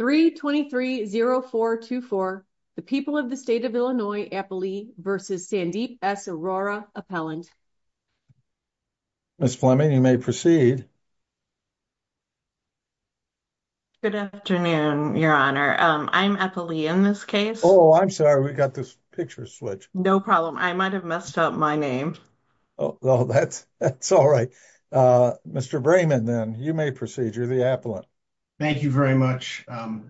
3230424 the people of the state of Illinois Appalee versus Sandeep S. Aurora Appellant. Ms. Fleming, you may proceed. Good afternoon, your honor. I'm Appalee in this case. Oh, I'm sorry. We got this picture switched. No problem. I might have messed up my name. Oh, that's all right. Mr. Brayman, then you may proceed. You're the appellant. Thank you very much,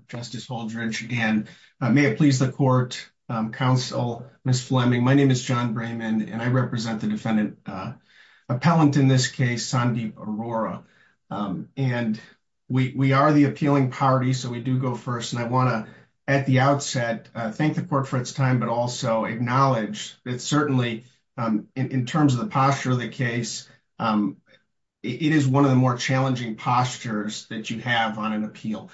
Justice Holdredge. And may it please the court, counsel, Ms. Fleming. My name is John Brayman, and I represent the defendant appellant in this case, Sandeep Aurora. And we are the appealing party. So we do go first. And I want to, at the outset, thank the court for its time, but also acknowledge that certainly, in terms of the posture of the case, it is one of the more challenging postures that you have on an appeal.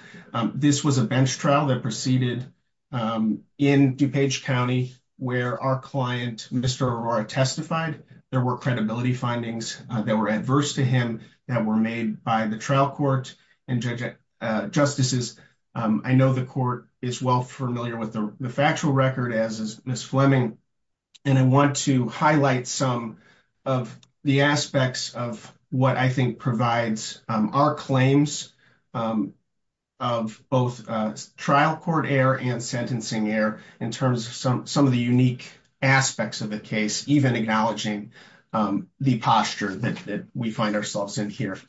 This was a bench trial that proceeded in DuPage County, where our client, Mr. Aurora, testified. There were credibility findings that were adverse to him that were made by the trial court and judges, justices. I know the court is well familiar with the factual record as is Ms. Fleming. And I want to highlight some of the aspects of what I think provides our claims of both trial court error and sentencing error in terms of some of the unique aspects of the case, even acknowledging the posture that we find ourselves in here.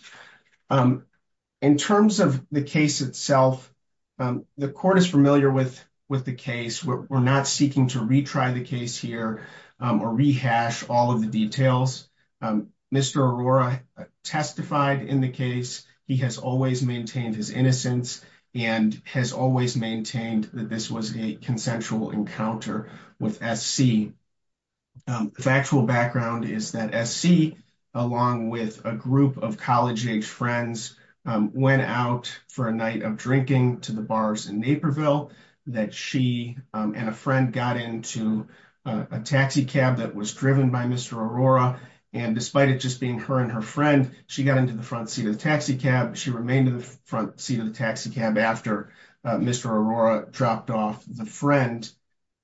In terms of the case itself, the court is familiar with the case. We're not seeking to retry the case here or rehash all of the details. Mr. Aurora testified in the case. He has always maintained his innocence and has always maintained that this was a consensual encounter with SC. The factual to the bars in Naperville that she and a friend got into a taxi cab that was driven by Mr. Aurora. And despite it just being her and her friend, she got into the front seat of the taxi cab. She remained in the front seat of the taxi cab after Mr. Aurora dropped off the friend,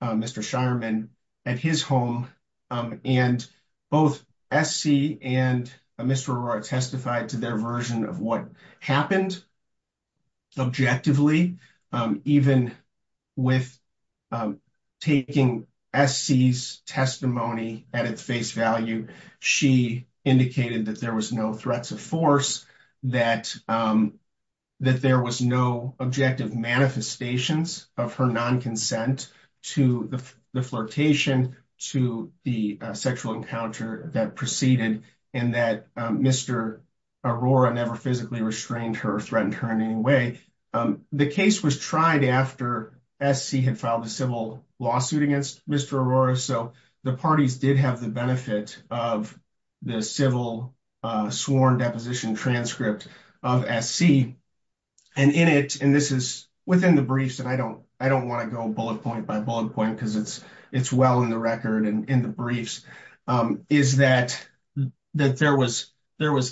Mr. Shireman, at his home. And both SC and Mr. Aurora testified to their version of what happened objectively, even with taking SC's testimony at its face value. She indicated that there was no threats of force, that there was no objective manifestations of her non-consent to the flirtation, to the sexual encounter that proceeded, and that Mr. Aurora never restrained her or threatened her in any way. The case was tried after SC had filed a civil lawsuit against Mr. Aurora. So the parties did have the benefit of the civil sworn deposition transcript of SC. And in it, and this is within the briefs, and I don't want to go bullet point by bullet point because it's well in the record and in the briefs, is that there was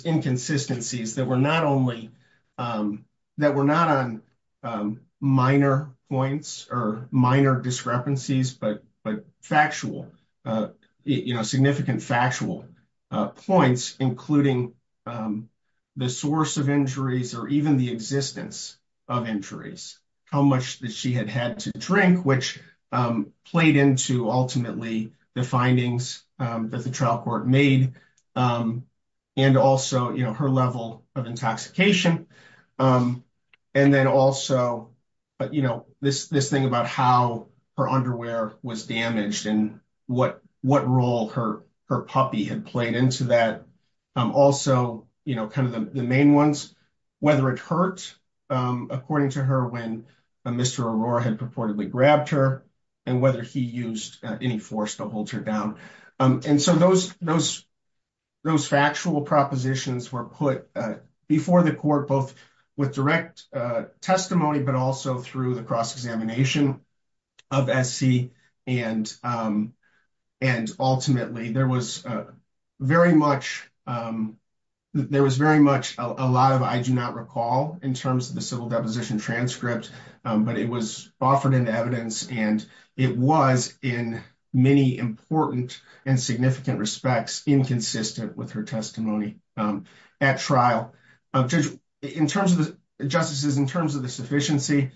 inconsistencies were not only, that were not on minor points or minor discrepancies, but factual, you know, significant factual points, including the source of injuries or even the existence of injuries, how much that she had had to drink, which played into ultimately the findings that the trial court made, and also, you know, her level of intoxication. And then also, you know, this thing about how her underwear was damaged and what role her puppy had played into that. Also, you know, kind of the main ones, whether it hurt, according to her, when Mr. Aurora had purportedly grabbed her and whether he used any force to hold her down. And so those, those, those factual propositions were put before the court, both with direct testimony, but also through the cross examination of SC. And, and ultimately there was very much, there was very much a lot of, I do not recall in terms of the civil deposition transcript, but it was offered in evidence and it was in many important and significant respects inconsistent with her testimony at trial. In terms of the justices, in terms of the sufficiency,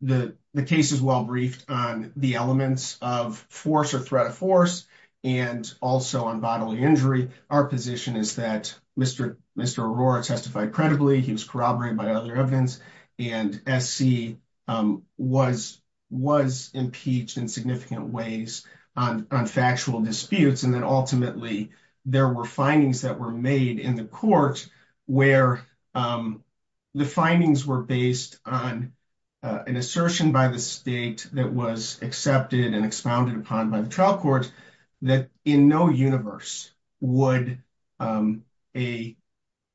the case is well briefed on the elements of force or threat of force and also on bodily injury. Our position is that Mr. Aurora testified credibly. He was corroborated by other evidence and SC was, was impeached in significant ways on factual disputes. And then ultimately there were findings that were made in the court where the findings were based on an assertion by the state that was accepted and expounded upon by the trial court that in no universe would a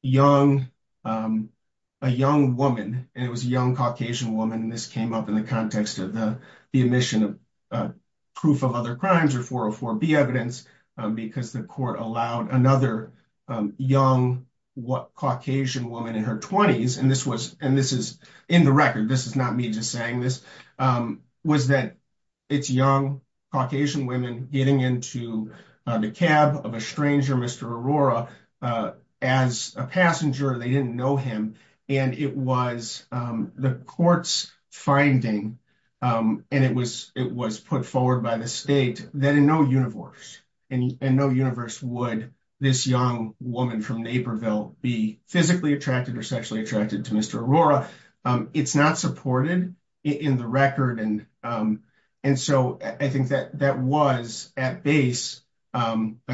young, a young woman, and it was a young Caucasian woman, and this came up in the context of the, the admission of proof of other crimes or 404B evidence because the court allowed another young Caucasian woman in her 20s, and this was, and this is in the record, this is not me just saying this, was that it's young Caucasian women getting into the cab of a stranger, Mr. Aurora, as a passenger, they didn't know him, and it was the court's finding, and it was, it was put forward by the state that in no universe, in no universe would this young woman from Naperville be physically attracted or sexually attracted to Mr. Aurora. It's not supported in the record, and, and so I think that that was at base a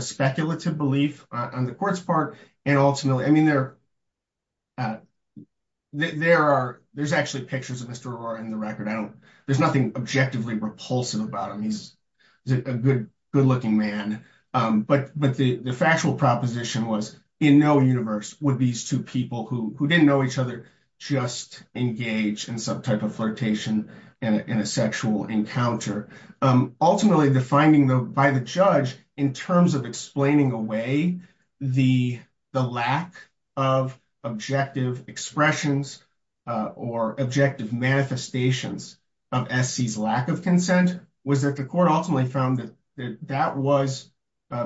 speculative belief on the court's part, and ultimately, I mean, there are, there's actually pictures of Mr. Aurora in the record. I don't, there's nothing objectively repulsive about him. He's a good, good looking man, but, but the, the factual proposition was in no universe would these two people who, who didn't know each other just engage in some type of flirtation in a sexual encounter. Ultimately, the finding, though, by the judge in terms of explaining away the, the lack of objective expressions or objective manifestations of S.C.'s lack of consent was that the court ultimately found that that was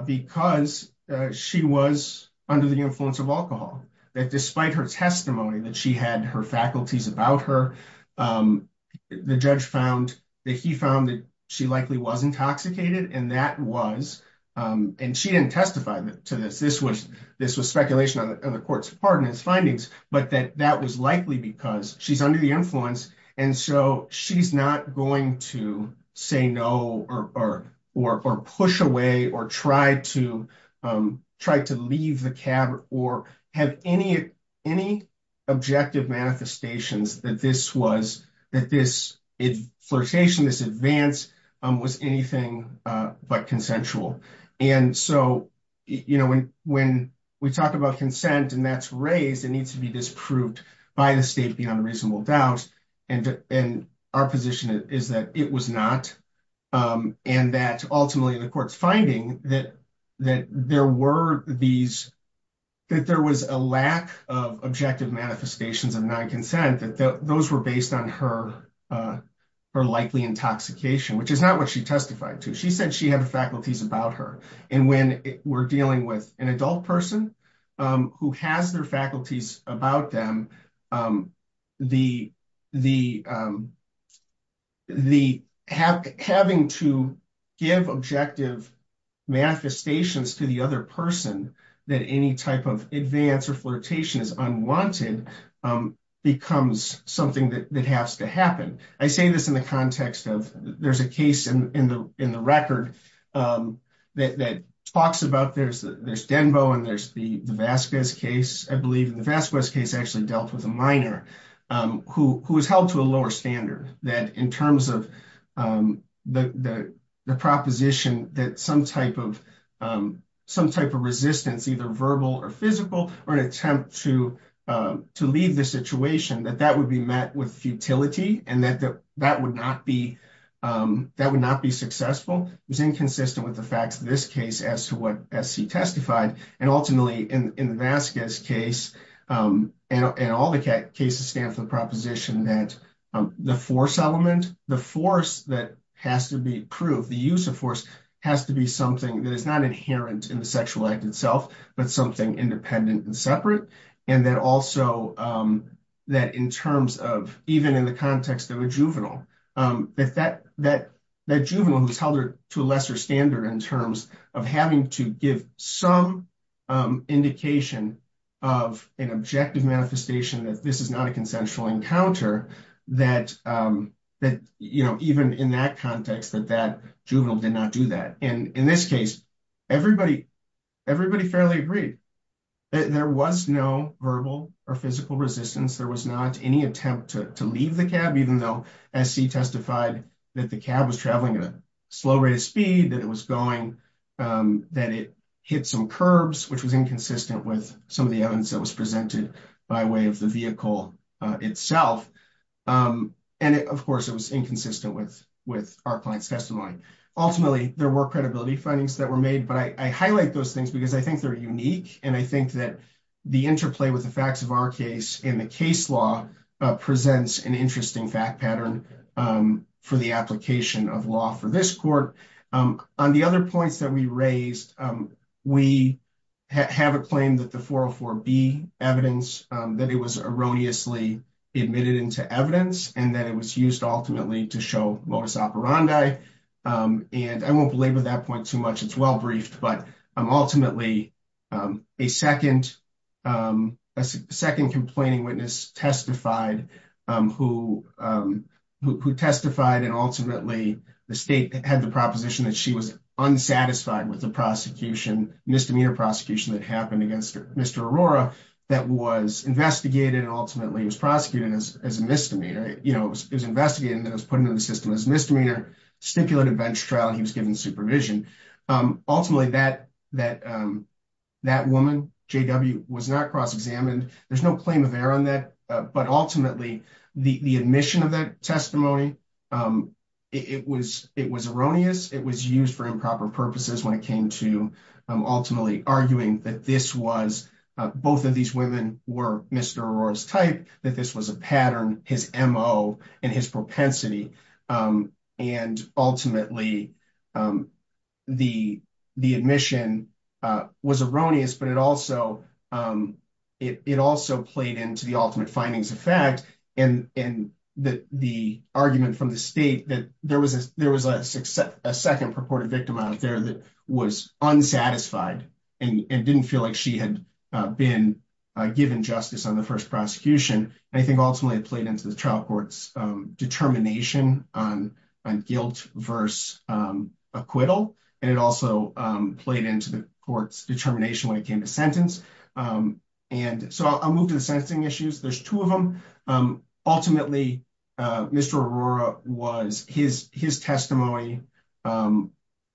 because she was under the influence of alcohol. That despite her testimony that she had her faculties about her, the judge found that he found that she likely was intoxicated, and that was, and she didn't testify to this, this was, this was speculation on the court's part in his findings, but that that was likely because she's under the influence, and so she's not going to say no or, or, or push away or try to, try to leave the cab or have any, any objective manifestations that this was, that this flirtation, this advance was anything but consensual. And so, you know, when, when we talk about consent and that's raised, it needs to be disproved by the state beyond a reasonable doubt, and, and our position is that it was not, and that ultimately the court's finding that, that there were these, that there was a lack of objective manifestations of non-consent, that those were based on her, her likely intoxication, which is not what she testified to. She said she had the faculties about her, and when we're dealing with an adult person who has their faculties about them, the, the, the have, having to give objective manifestations to the other person that any type of advance or flirtation is unwanted becomes something that has to happen. I say this in the context of, there's a case in the, in the record that, that talks about there's, there's Denbo and there's the, the Vasquez case, I believe in the Vasquez case actually dealt with a minor who, who was held to a lower standard, that in terms of the, the, the proposition that some type of, some type of resistance, either verbal or physical, or an attempt to, to leave the situation, that that would be met with utility and that, that would not be, that would not be successful, was inconsistent with the facts of this case as to what SC testified, and ultimately in, in the Vasquez case, and, and all the cases stand for the proposition that the force element, the force that has to be proved, the use of force has to be something that is not inherent in the sexual act itself, but something independent and separate, and that also, that in terms of, even in the context of a juvenile, that, that, that, that juvenile who's held to a lesser standard in terms of having to give some indication of an objective manifestation that this is not a consensual encounter, that, that, you know, even in that context, that, that juvenile did not do that, and in this case, everybody, everybody fairly agreed that there was no verbal or physical resistance. There was not any attempt to, to leave the cab, even though SC testified that the cab was traveling at a slow rate of speed, that it was going, that it hit some curbs, which was inconsistent with some of the evidence that was presented by way of the vehicle itself, and of course, it was inconsistent with, our client's testimony. Ultimately, there were credibility findings that were made, but I, I highlight those things because I think they're unique, and I think that the interplay with the facts of our case in the case law presents an interesting fact pattern for the application of law for this court. On the other points that we raised, we have a claim that the 404B evidence, that it was erroneously admitted into evidence, and that it was used ultimately to show lois operandi, and I won't belabor that point too much. It's well briefed, but ultimately, a second, a second complaining witness testified, who, who testified, and ultimately, the state had the proposition that she was unsatisfied with the prosecution, misdemeanor prosecution that happened against Mr. Arora, that was investigated and ultimately was prosecuted as, as a misdemeanor. You know, it was investigated, and it was put into the system as misdemeanor, stipulated bench trial, and he was given supervision. Ultimately, that, that, that woman, JW, was not cross-examined. There's no claim of error on that, but ultimately, the, the admission of that testimony, it was, it was erroneous. It was used for improper purposes when it came to ultimately arguing that this was, both of these women were Mr. Arora's type, that this was a pattern, his MO, and his propensity, and ultimately, the, the admission was erroneous, but it also, it, it also played into the ultimate findings of fact, and, and the, the argument from the state that there was a, there was a success, a second purported victim out there that was unsatisfied, and didn't feel like she had been given justice on the first prosecution, and I think ultimately, it played into the trial court's determination on, on guilt versus acquittal, and it also played into the court's determination when it came to sentence, and so I'll move to the sentencing issues. There's two of them. Ultimately, Mr. Arora was, his, his testimony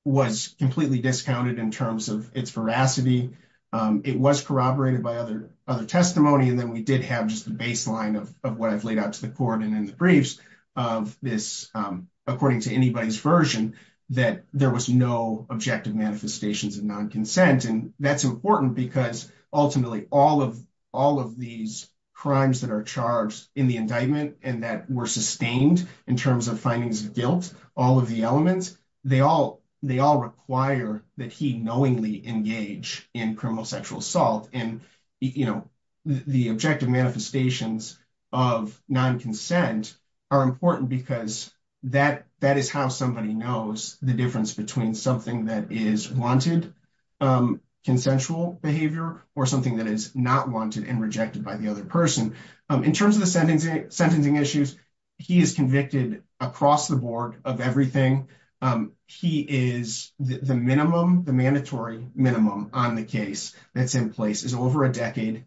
was completely discounted in terms of its veracity. It was corroborated by other testimony, and then we did have just the baseline of what I've laid out to the court, and in the briefs of this, according to anybody's version, that there was no objective manifestations of non-consent, and that's important because ultimately, all of, all of these crimes that are charged in the indictment, and that were sustained in terms of findings of guilt, all of the elements, they all, they all require that he knowingly engage in criminal sexual assault, and, you know, the objective manifestations of non-consent are important because that, that is how somebody knows the difference between something that is wanted consensual behavior, or something that is not wanted and rejected by the other person. In terms of the sentencing, sentencing issues, he is convicted across the board of everything. He is, the minimum, the mandatory minimum on the case that's in place is over a decade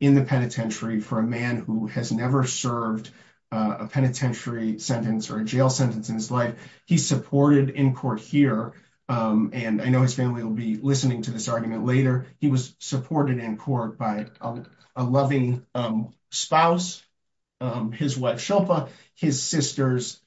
in the penitentiary for a man who has never served a penitentiary sentence or a jail sentence in his life. He's supported in court here, and I know his family will be listening to this argument later, he was supported in court by a loving spouse, his wife Shilpa, his sisters,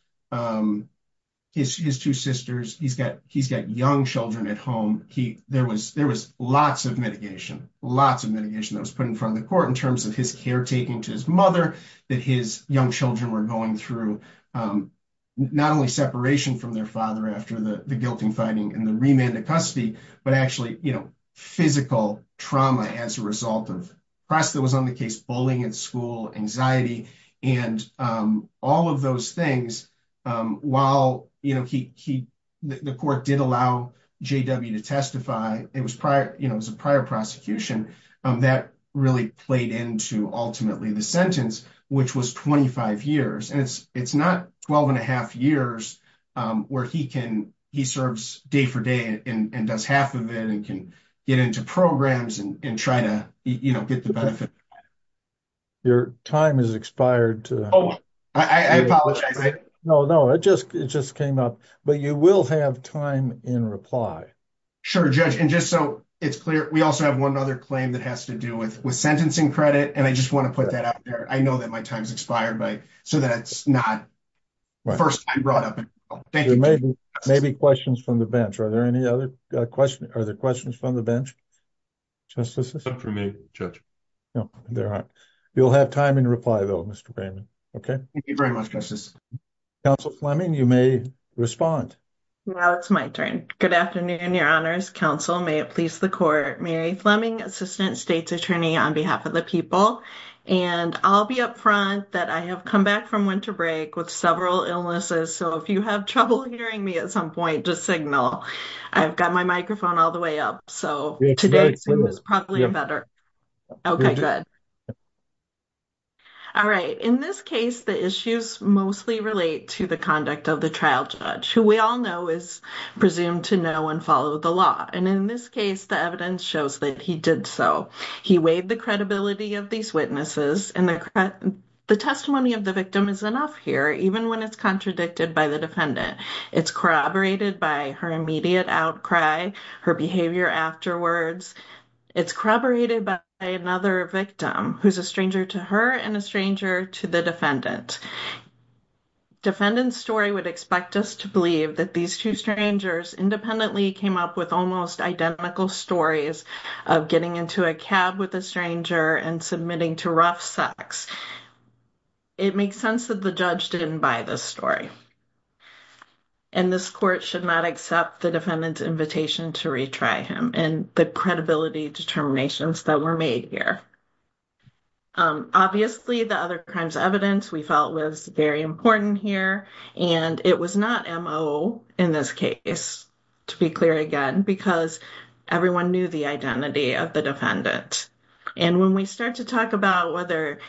his two sisters, he's got, he's got young children at home. He, there was, there was lots of mitigation, lots of mitigation that was put in front of the court in terms of his caretaking to his mother, that his young children were going through, not only separation from their father after the, the guilting finding and the remand of custody, but actually, you know, physical trauma as a result of, of course, that was on the case, bullying in school, anxiety, and all of those things, while, you know, he, he, the court did allow JW to testify, it was prior, you know, it was a prior prosecution that really played into ultimately the sentence, which was 25 years, and it's, it's not 12 and a half years where he can, he serves day for day and does half of it and can get into programs and try to, you know, get the benefit. Your time has expired. Oh, I apologize. No, no, it just, it just came up, but you will have time in reply. Sure, Judge, and just so it's clear, we also have one other claim that has to do with, with sentencing credit, and I just want to put that out there. I know that my time's expired, so that's not first time brought up. Thank you. Maybe questions from the bench. Are there any other questions? Are there questions from the bench? Justices? No, there aren't. You'll have time in reply though, Mr. Raymond. Okay. Thank you very much, Justice. Counsel Fleming, you may respond. Now it's my turn. Good afternoon, Your Honors. Counsel, may it please the court, Mary Fleming, Assistant State's Attorney on behalf of the people, and I'll be up front that I have come back from winter break with several illnesses, so if you have trouble hearing me at some point, just signal. I've got my microphone all the way up, so today is probably better. Okay, good. All right. In this case, the issues mostly relate to the conduct of the trial judge, who we all know is presumed to know and follow the law, and in this case, the evidence shows that he did so. He weighed the credibility of these witnesses, and the testimony of the victim is enough here, even when it's contradicted by the defendant. It's corroborated by her immediate outcry, her behavior afterwards. It's corroborated by another victim who's a stranger to her and a stranger to the defendant. Defendant's story would expect us to believe that these two strangers independently came up with almost identical stories of getting into a cab with a stranger and submitting to rough sex. It makes sense that the judge didn't buy this story, and this court should not accept the defendant's invitation to retry him and the credibility determinations that were made here. Obviously, the other crimes evidence we felt was very important here, and it was not M.O. in this case, to be clear again, because everyone knew the identity of the defendant. And when we start to talk about whether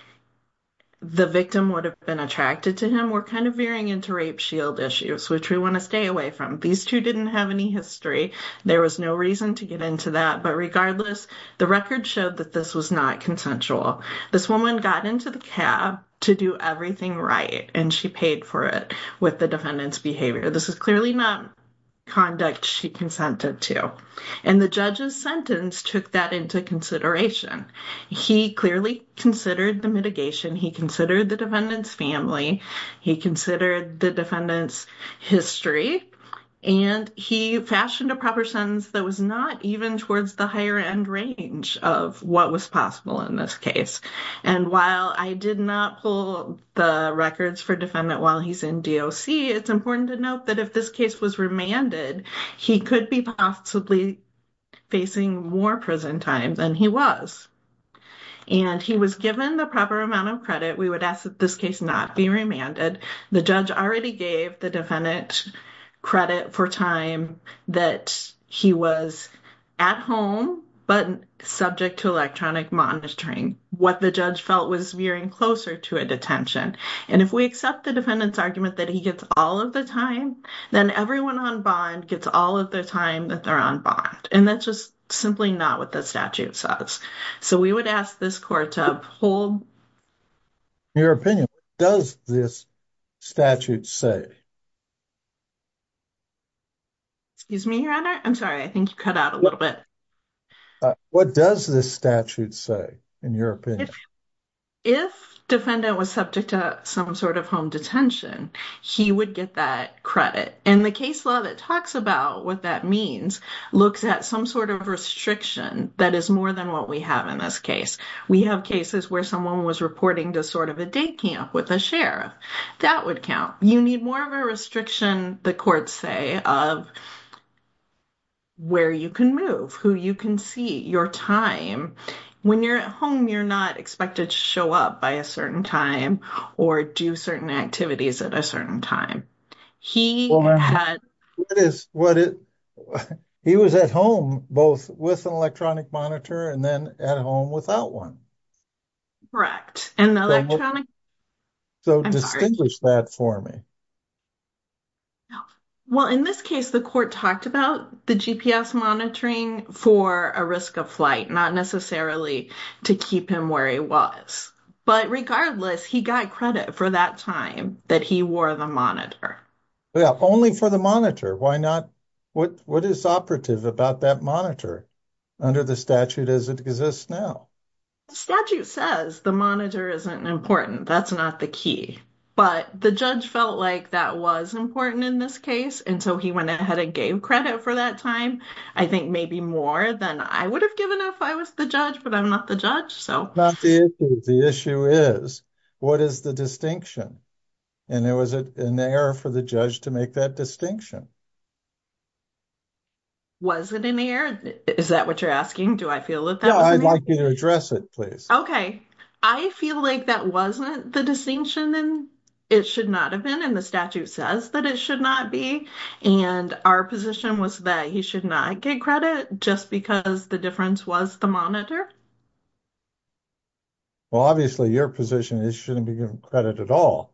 the victim would have been attracted to him, we're kind of veering into rape shield issues, which we want to stay away from. These two didn't have any history. There was no reason to get into that, but regardless, the record showed that this was not consensual. This woman got into the cab to do everything right, and she paid for it with the defendant's behavior. This is clearly not conduct she consented to, and the judge's sentence took that into consideration. He clearly considered the mitigation. He considered the defendant's family. He considered the defendant's history, and he fashioned a proper sentence that was not even towards the higher end range of what was possible in this case. And while I did not pull the records for defendant while he's in D.O.C., it's important to note that if this case was remanded, he could be possibly facing more prison time than he was. And he was given the proper amount of credit. We would ask that this case not be remanded. The judge already gave the defendant credit for time that he was at home, but subject to electronic monitoring. What the judge felt was veering closer to a detention. And if we accept the defendant's argument that he gets all of the time, then everyone on bond gets all of the time that they're on bond. And that's just simply not what the statute says. So we would ask this court to uphold your opinion. What does this statute say? Excuse me, your honor. I'm sorry. I think you cut out a little bit. What does this statute say in your opinion? If defendant was subject to some sort of home detention, he would get that credit. And the case law that talks about what that means looks at some sort of restriction that is more than what we have in this case. We have cases where someone was reporting to sort of a day camp with a sheriff. That would count. You need more of a restriction, the courts say, of where you can move, who you can see, your time. When you're at home, you're not expected to show up by a certain time or do certain activities at a certain time. He was at home both with an electronic monitor and then at home without one. Correct. So distinguish that for me. Well, in this case, the court talked about the GPS monitoring for a risk of flight, not necessarily to keep him where he was. But regardless, he got credit for that time that he wore the monitor. Yeah, only for the monitor. Why not? What is operative about that monitor under the statute as it exists now? The statute says the monitor isn't important. That's not the key. But the judge felt like that was important in this case. And so he went ahead and gave credit for that time. I think maybe more than I would have given if I was the judge, but I'm not the judge. So the issue is, what is the distinction? And there was an error for the judge to make that distinction. Was it an error? Is that what you're asking? Do I feel like that? I'd like you to address it, please. Okay. I feel like that wasn't the distinction and it should not have been. And the statute says that it should not be. And our position was that he should not get credit just because the difference was the monitor. Well, obviously your position is shouldn't be given credit at all,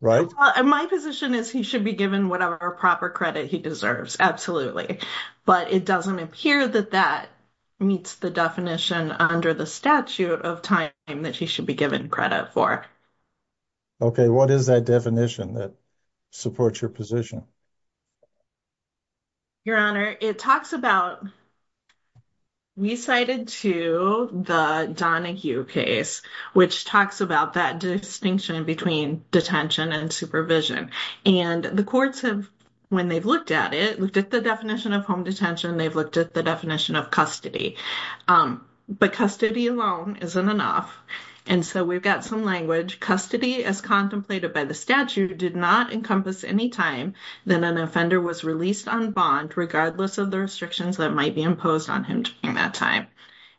right? My position is he should be given whatever proper credit he deserves. Absolutely. But it doesn't appear that that meets the definition under the statute of time that he should be given credit for. Okay. What is that definition that supports your position? Your Honor, it talks about, we cited to the Donahue case, which talks about that distinction between detention and supervision. And the courts have, when they've looked at it, looked at the definition of home detention, they've looked at the definition of custody. But custody alone isn't enough. And so we've got some language, custody as contemplated by the statute did not encompass any time that an offender was released on bond, regardless of the restrictions that might be imposed on him during that time.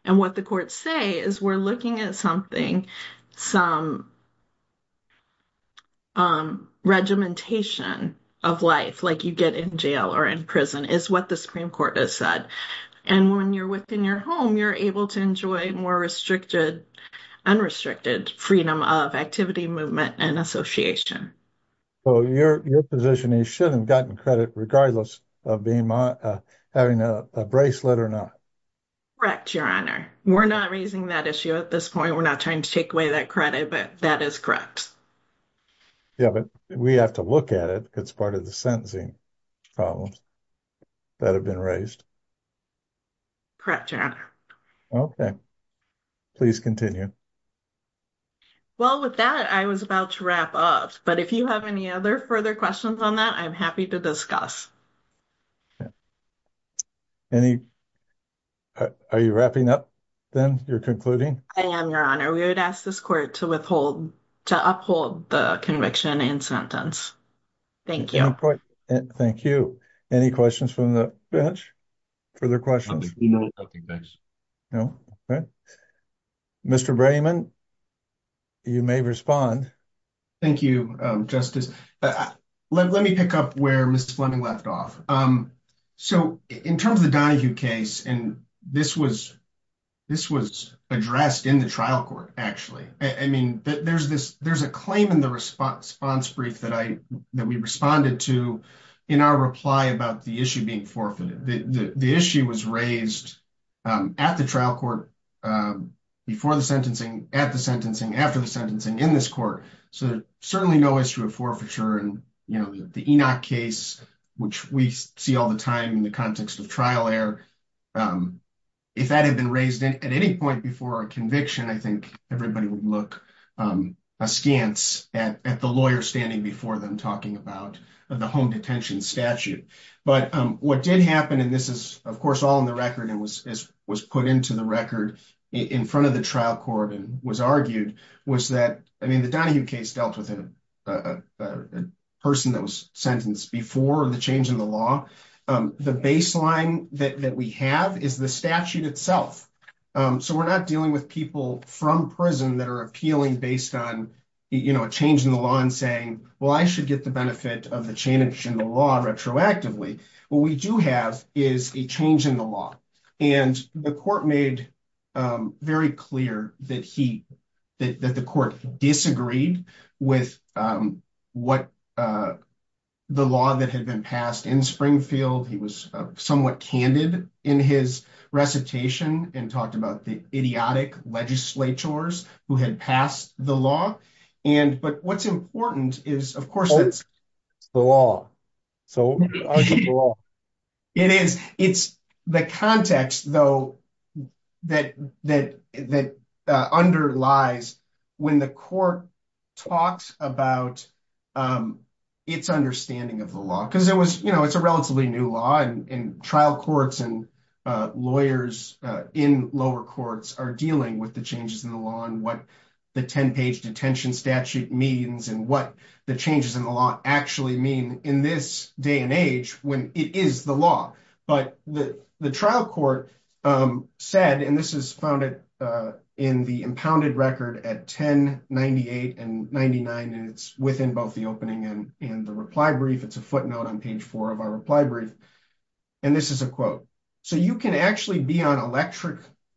And what the courts say is we're looking at something, some regimentation of life, like you get in jail or in prison is what the Supreme Court has said. And when you're within your home, you're able to enjoy more unrestricted freedom of activity, movement, and association. So your position is he should have gotten credit regardless of having a bracelet or not? Correct, Your Honor. We're not raising that issue at this point. We're not trying to take away that credit, but that is correct. Yeah, but we have to look at it, because it's part of the sentencing problems that have been raised. Correct, Your Honor. Okay. Please continue. Well, with that, I was about to wrap up. But if you have any other further questions on that, I'm happy to discuss. Okay. Are you wrapping up then? You're concluding? I am, Your Honor. We would ask this court to withhold, to uphold the conviction and sentence. Thank you. Thank you. Any questions from the bench? Further questions? No. Okay. Mr. Brenneman, you may respond. Thank you, Justice. Let me pick up where Ms. Fleming left off. So in terms of the Donahue case, and this was addressed in the trial court, actually. I mean, there's a claim in the response brief that we responded to in our reply about the being forfeited. The issue was raised at the trial court before the sentencing, at the sentencing, after the sentencing, in this court. So certainly no issue of forfeiture. And, you know, the Enoch case, which we see all the time in the context of trial error, if that had been raised at any point before a conviction, I think everybody would look askance at the lawyer standing before them talking about the home detention statute. But what did happen, and this is, of course, all in the record and was put into the record in front of the trial court and was argued, was that, I mean, the Donahue case dealt with a person that was sentenced before the change in the law. The baseline that we have is the statute itself. So we're not dealing with people from prison that are appealing based on, you know, a change in the law and saying, well, I should get the benefit of the change in the law retroactively. What we do have is a change in the law. And the court made very clear that he, that the court disagreed with what the law that had been passed in Springfield. He was somewhat candid in his recitation and talked about the idiotic legislatures who had passed the law. And, but what's important is, of course, it's the law. So it is, it's the context, though, that underlies when the court talks about its understanding of the law, because it was, it's a relatively new law and trial courts and lawyers in lower courts are dealing with the changes in the law and what the 10-page detention statute means and what the changes in the law actually mean in this day and age when it is the law. But the trial court said, and this is founded in the impounded record at 1098 and 99, and it's within both the opening and the reply brief. It's a footnote on page four of our reply brief. And this is a quote. So you can actually be on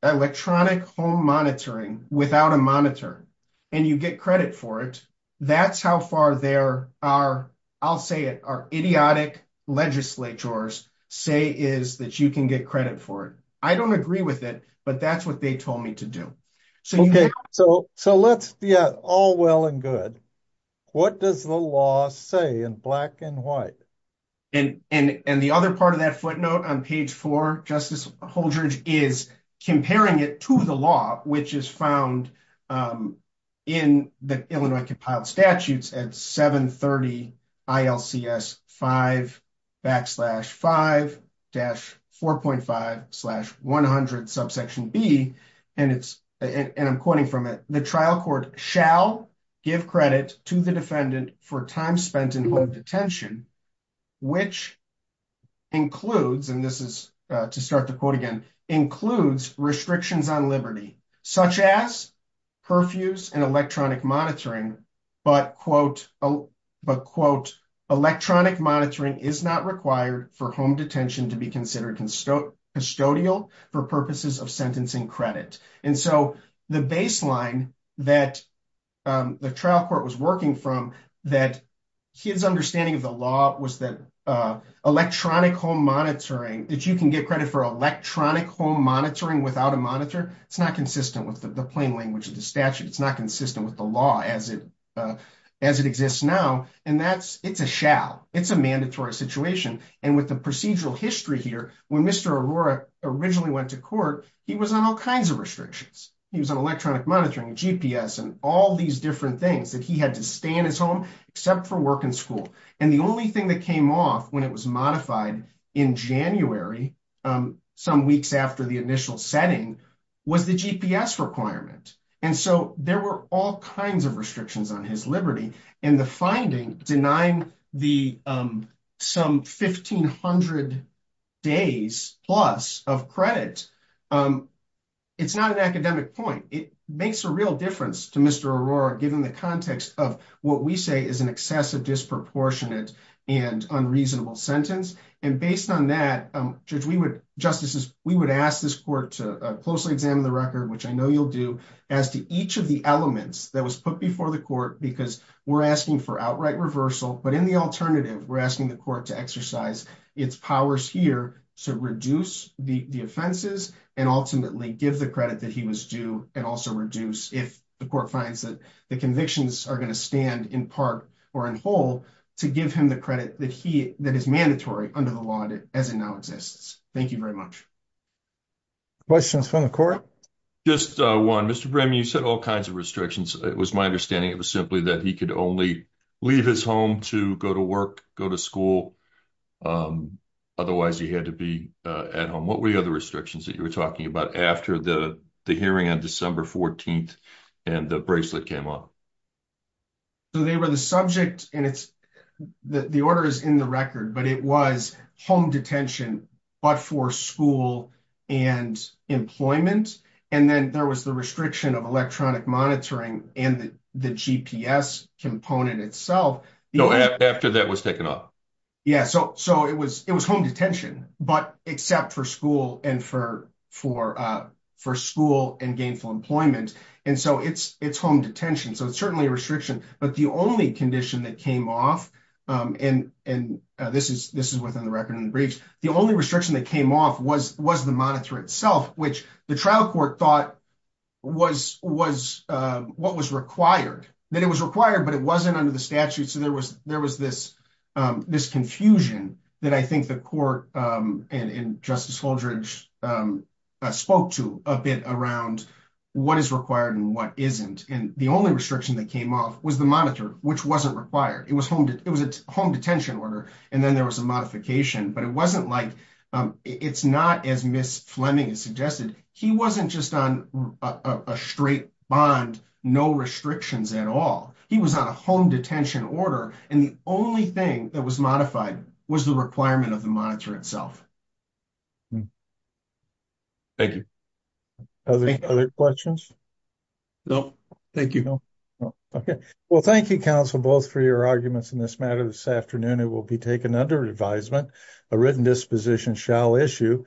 electronic home monitoring without a monitor and you get credit for it. That's how far there are, I'll say it, are idiotic legislatures say is that you can get credit for it. I don't agree with it, but that's what they told me to do. Okay. So, so let's, yeah, all well and good. What does the law say in black and white? And the other part of that footnote on page four, Justice Holdrege, is comparing it to the law, which is found in the Illinois compiled statutes at 1130 ILCS 5 backslash 5 dash 4.5 slash 100 subsection B. And it's, and I'm quoting from it, the trial court shall give credit to the defendant for time spent in detention, which includes, and this is to start the quote again, includes restrictions on liberty, such as curfews and electronic monitoring, but quote, but quote, electronic monitoring is not required for home detention to be considered custodial for purposes of sentencing credit. And so the baseline that the trial court was working from that his understanding of the law was that electronic home monitoring that you can get credit for electronic home monitoring without a monitor. It's not consistent with the plain language of the statute. It's not consistent with the law as it, as it exists now. And that's, it's a shall, it's a mandatory situation. And with the procedural history here, when Mr. Aurora originally went to court, he was on all kinds of restrictions. He was on electronic monitoring, GPS, and all these different things that he had to stay in his home, except for work and school. And the only thing that came off when it was modified in January, some weeks after the initial setting was the GPS requirement. And so there were all kinds of restrictions on his liberty and the finding denying the some 1500 days plus of credit. It's not an academic point. It makes a real difference to Mr. Aurora, given the context of what we say is an excessive disproportionate and unreasonable sentence. And based on that, judge, we would justices, we would ask this court to closely examine the record, which I know you'll do as to each of the elements that was put before the court, because we're asking for outright reversal, but in the alternative, we're asking the court to exercise its powers here to reduce the offenses and ultimately give the credit that he was due and also reduce if the court finds that the convictions are going to stand in part or in whole to give him the credit that he, that is mandatory under the law as it now exists. Thank you very much. Questions from the court? Just one, Mr. Brehm, you said all kinds of restrictions. It was my understanding. It was simply that he could only leave his home to go to work, go to school. Otherwise he had to be at home. What were the other restrictions that you were talking about after the hearing on December 14th and the bracelet came up? So they were the subject and it's, the order is in the record, but it was home detention, but for school and employment. And then there was the restriction of electronic monitoring and the GPS component itself. No, after that was taken off. Yeah. So, so it was, it was home detention, but except for school and for, for for school and gainful employment. And so it's, it's home detention. So it's certainly a restriction, but the only condition that came off and, and this is, this is within the record and the briefs, the only restriction that came off was, was the monitor itself, which the trial court thought was, was what was required, that it was required, but it wasn't under the statute. So there was, there was this, this confusion that I think the court and, and justice Holdridge spoke to a bit around what is required and what isn't. And the only restriction that came off was the monitor, which wasn't required. It was home. It was a home detention order. And then there was a modification, but it wasn't like it's not as Ms. Fleming has suggested. He wasn't just on a straight bond, no restrictions at all. He was on a home detention order. And the only thing that was modified was the requirement of the monitor itself. Thank you. Other questions? No, thank you. Okay. Well, thank you counsel, both for your arguments in this matter this afternoon, it will be taken under advisement, a written disposition shall issue.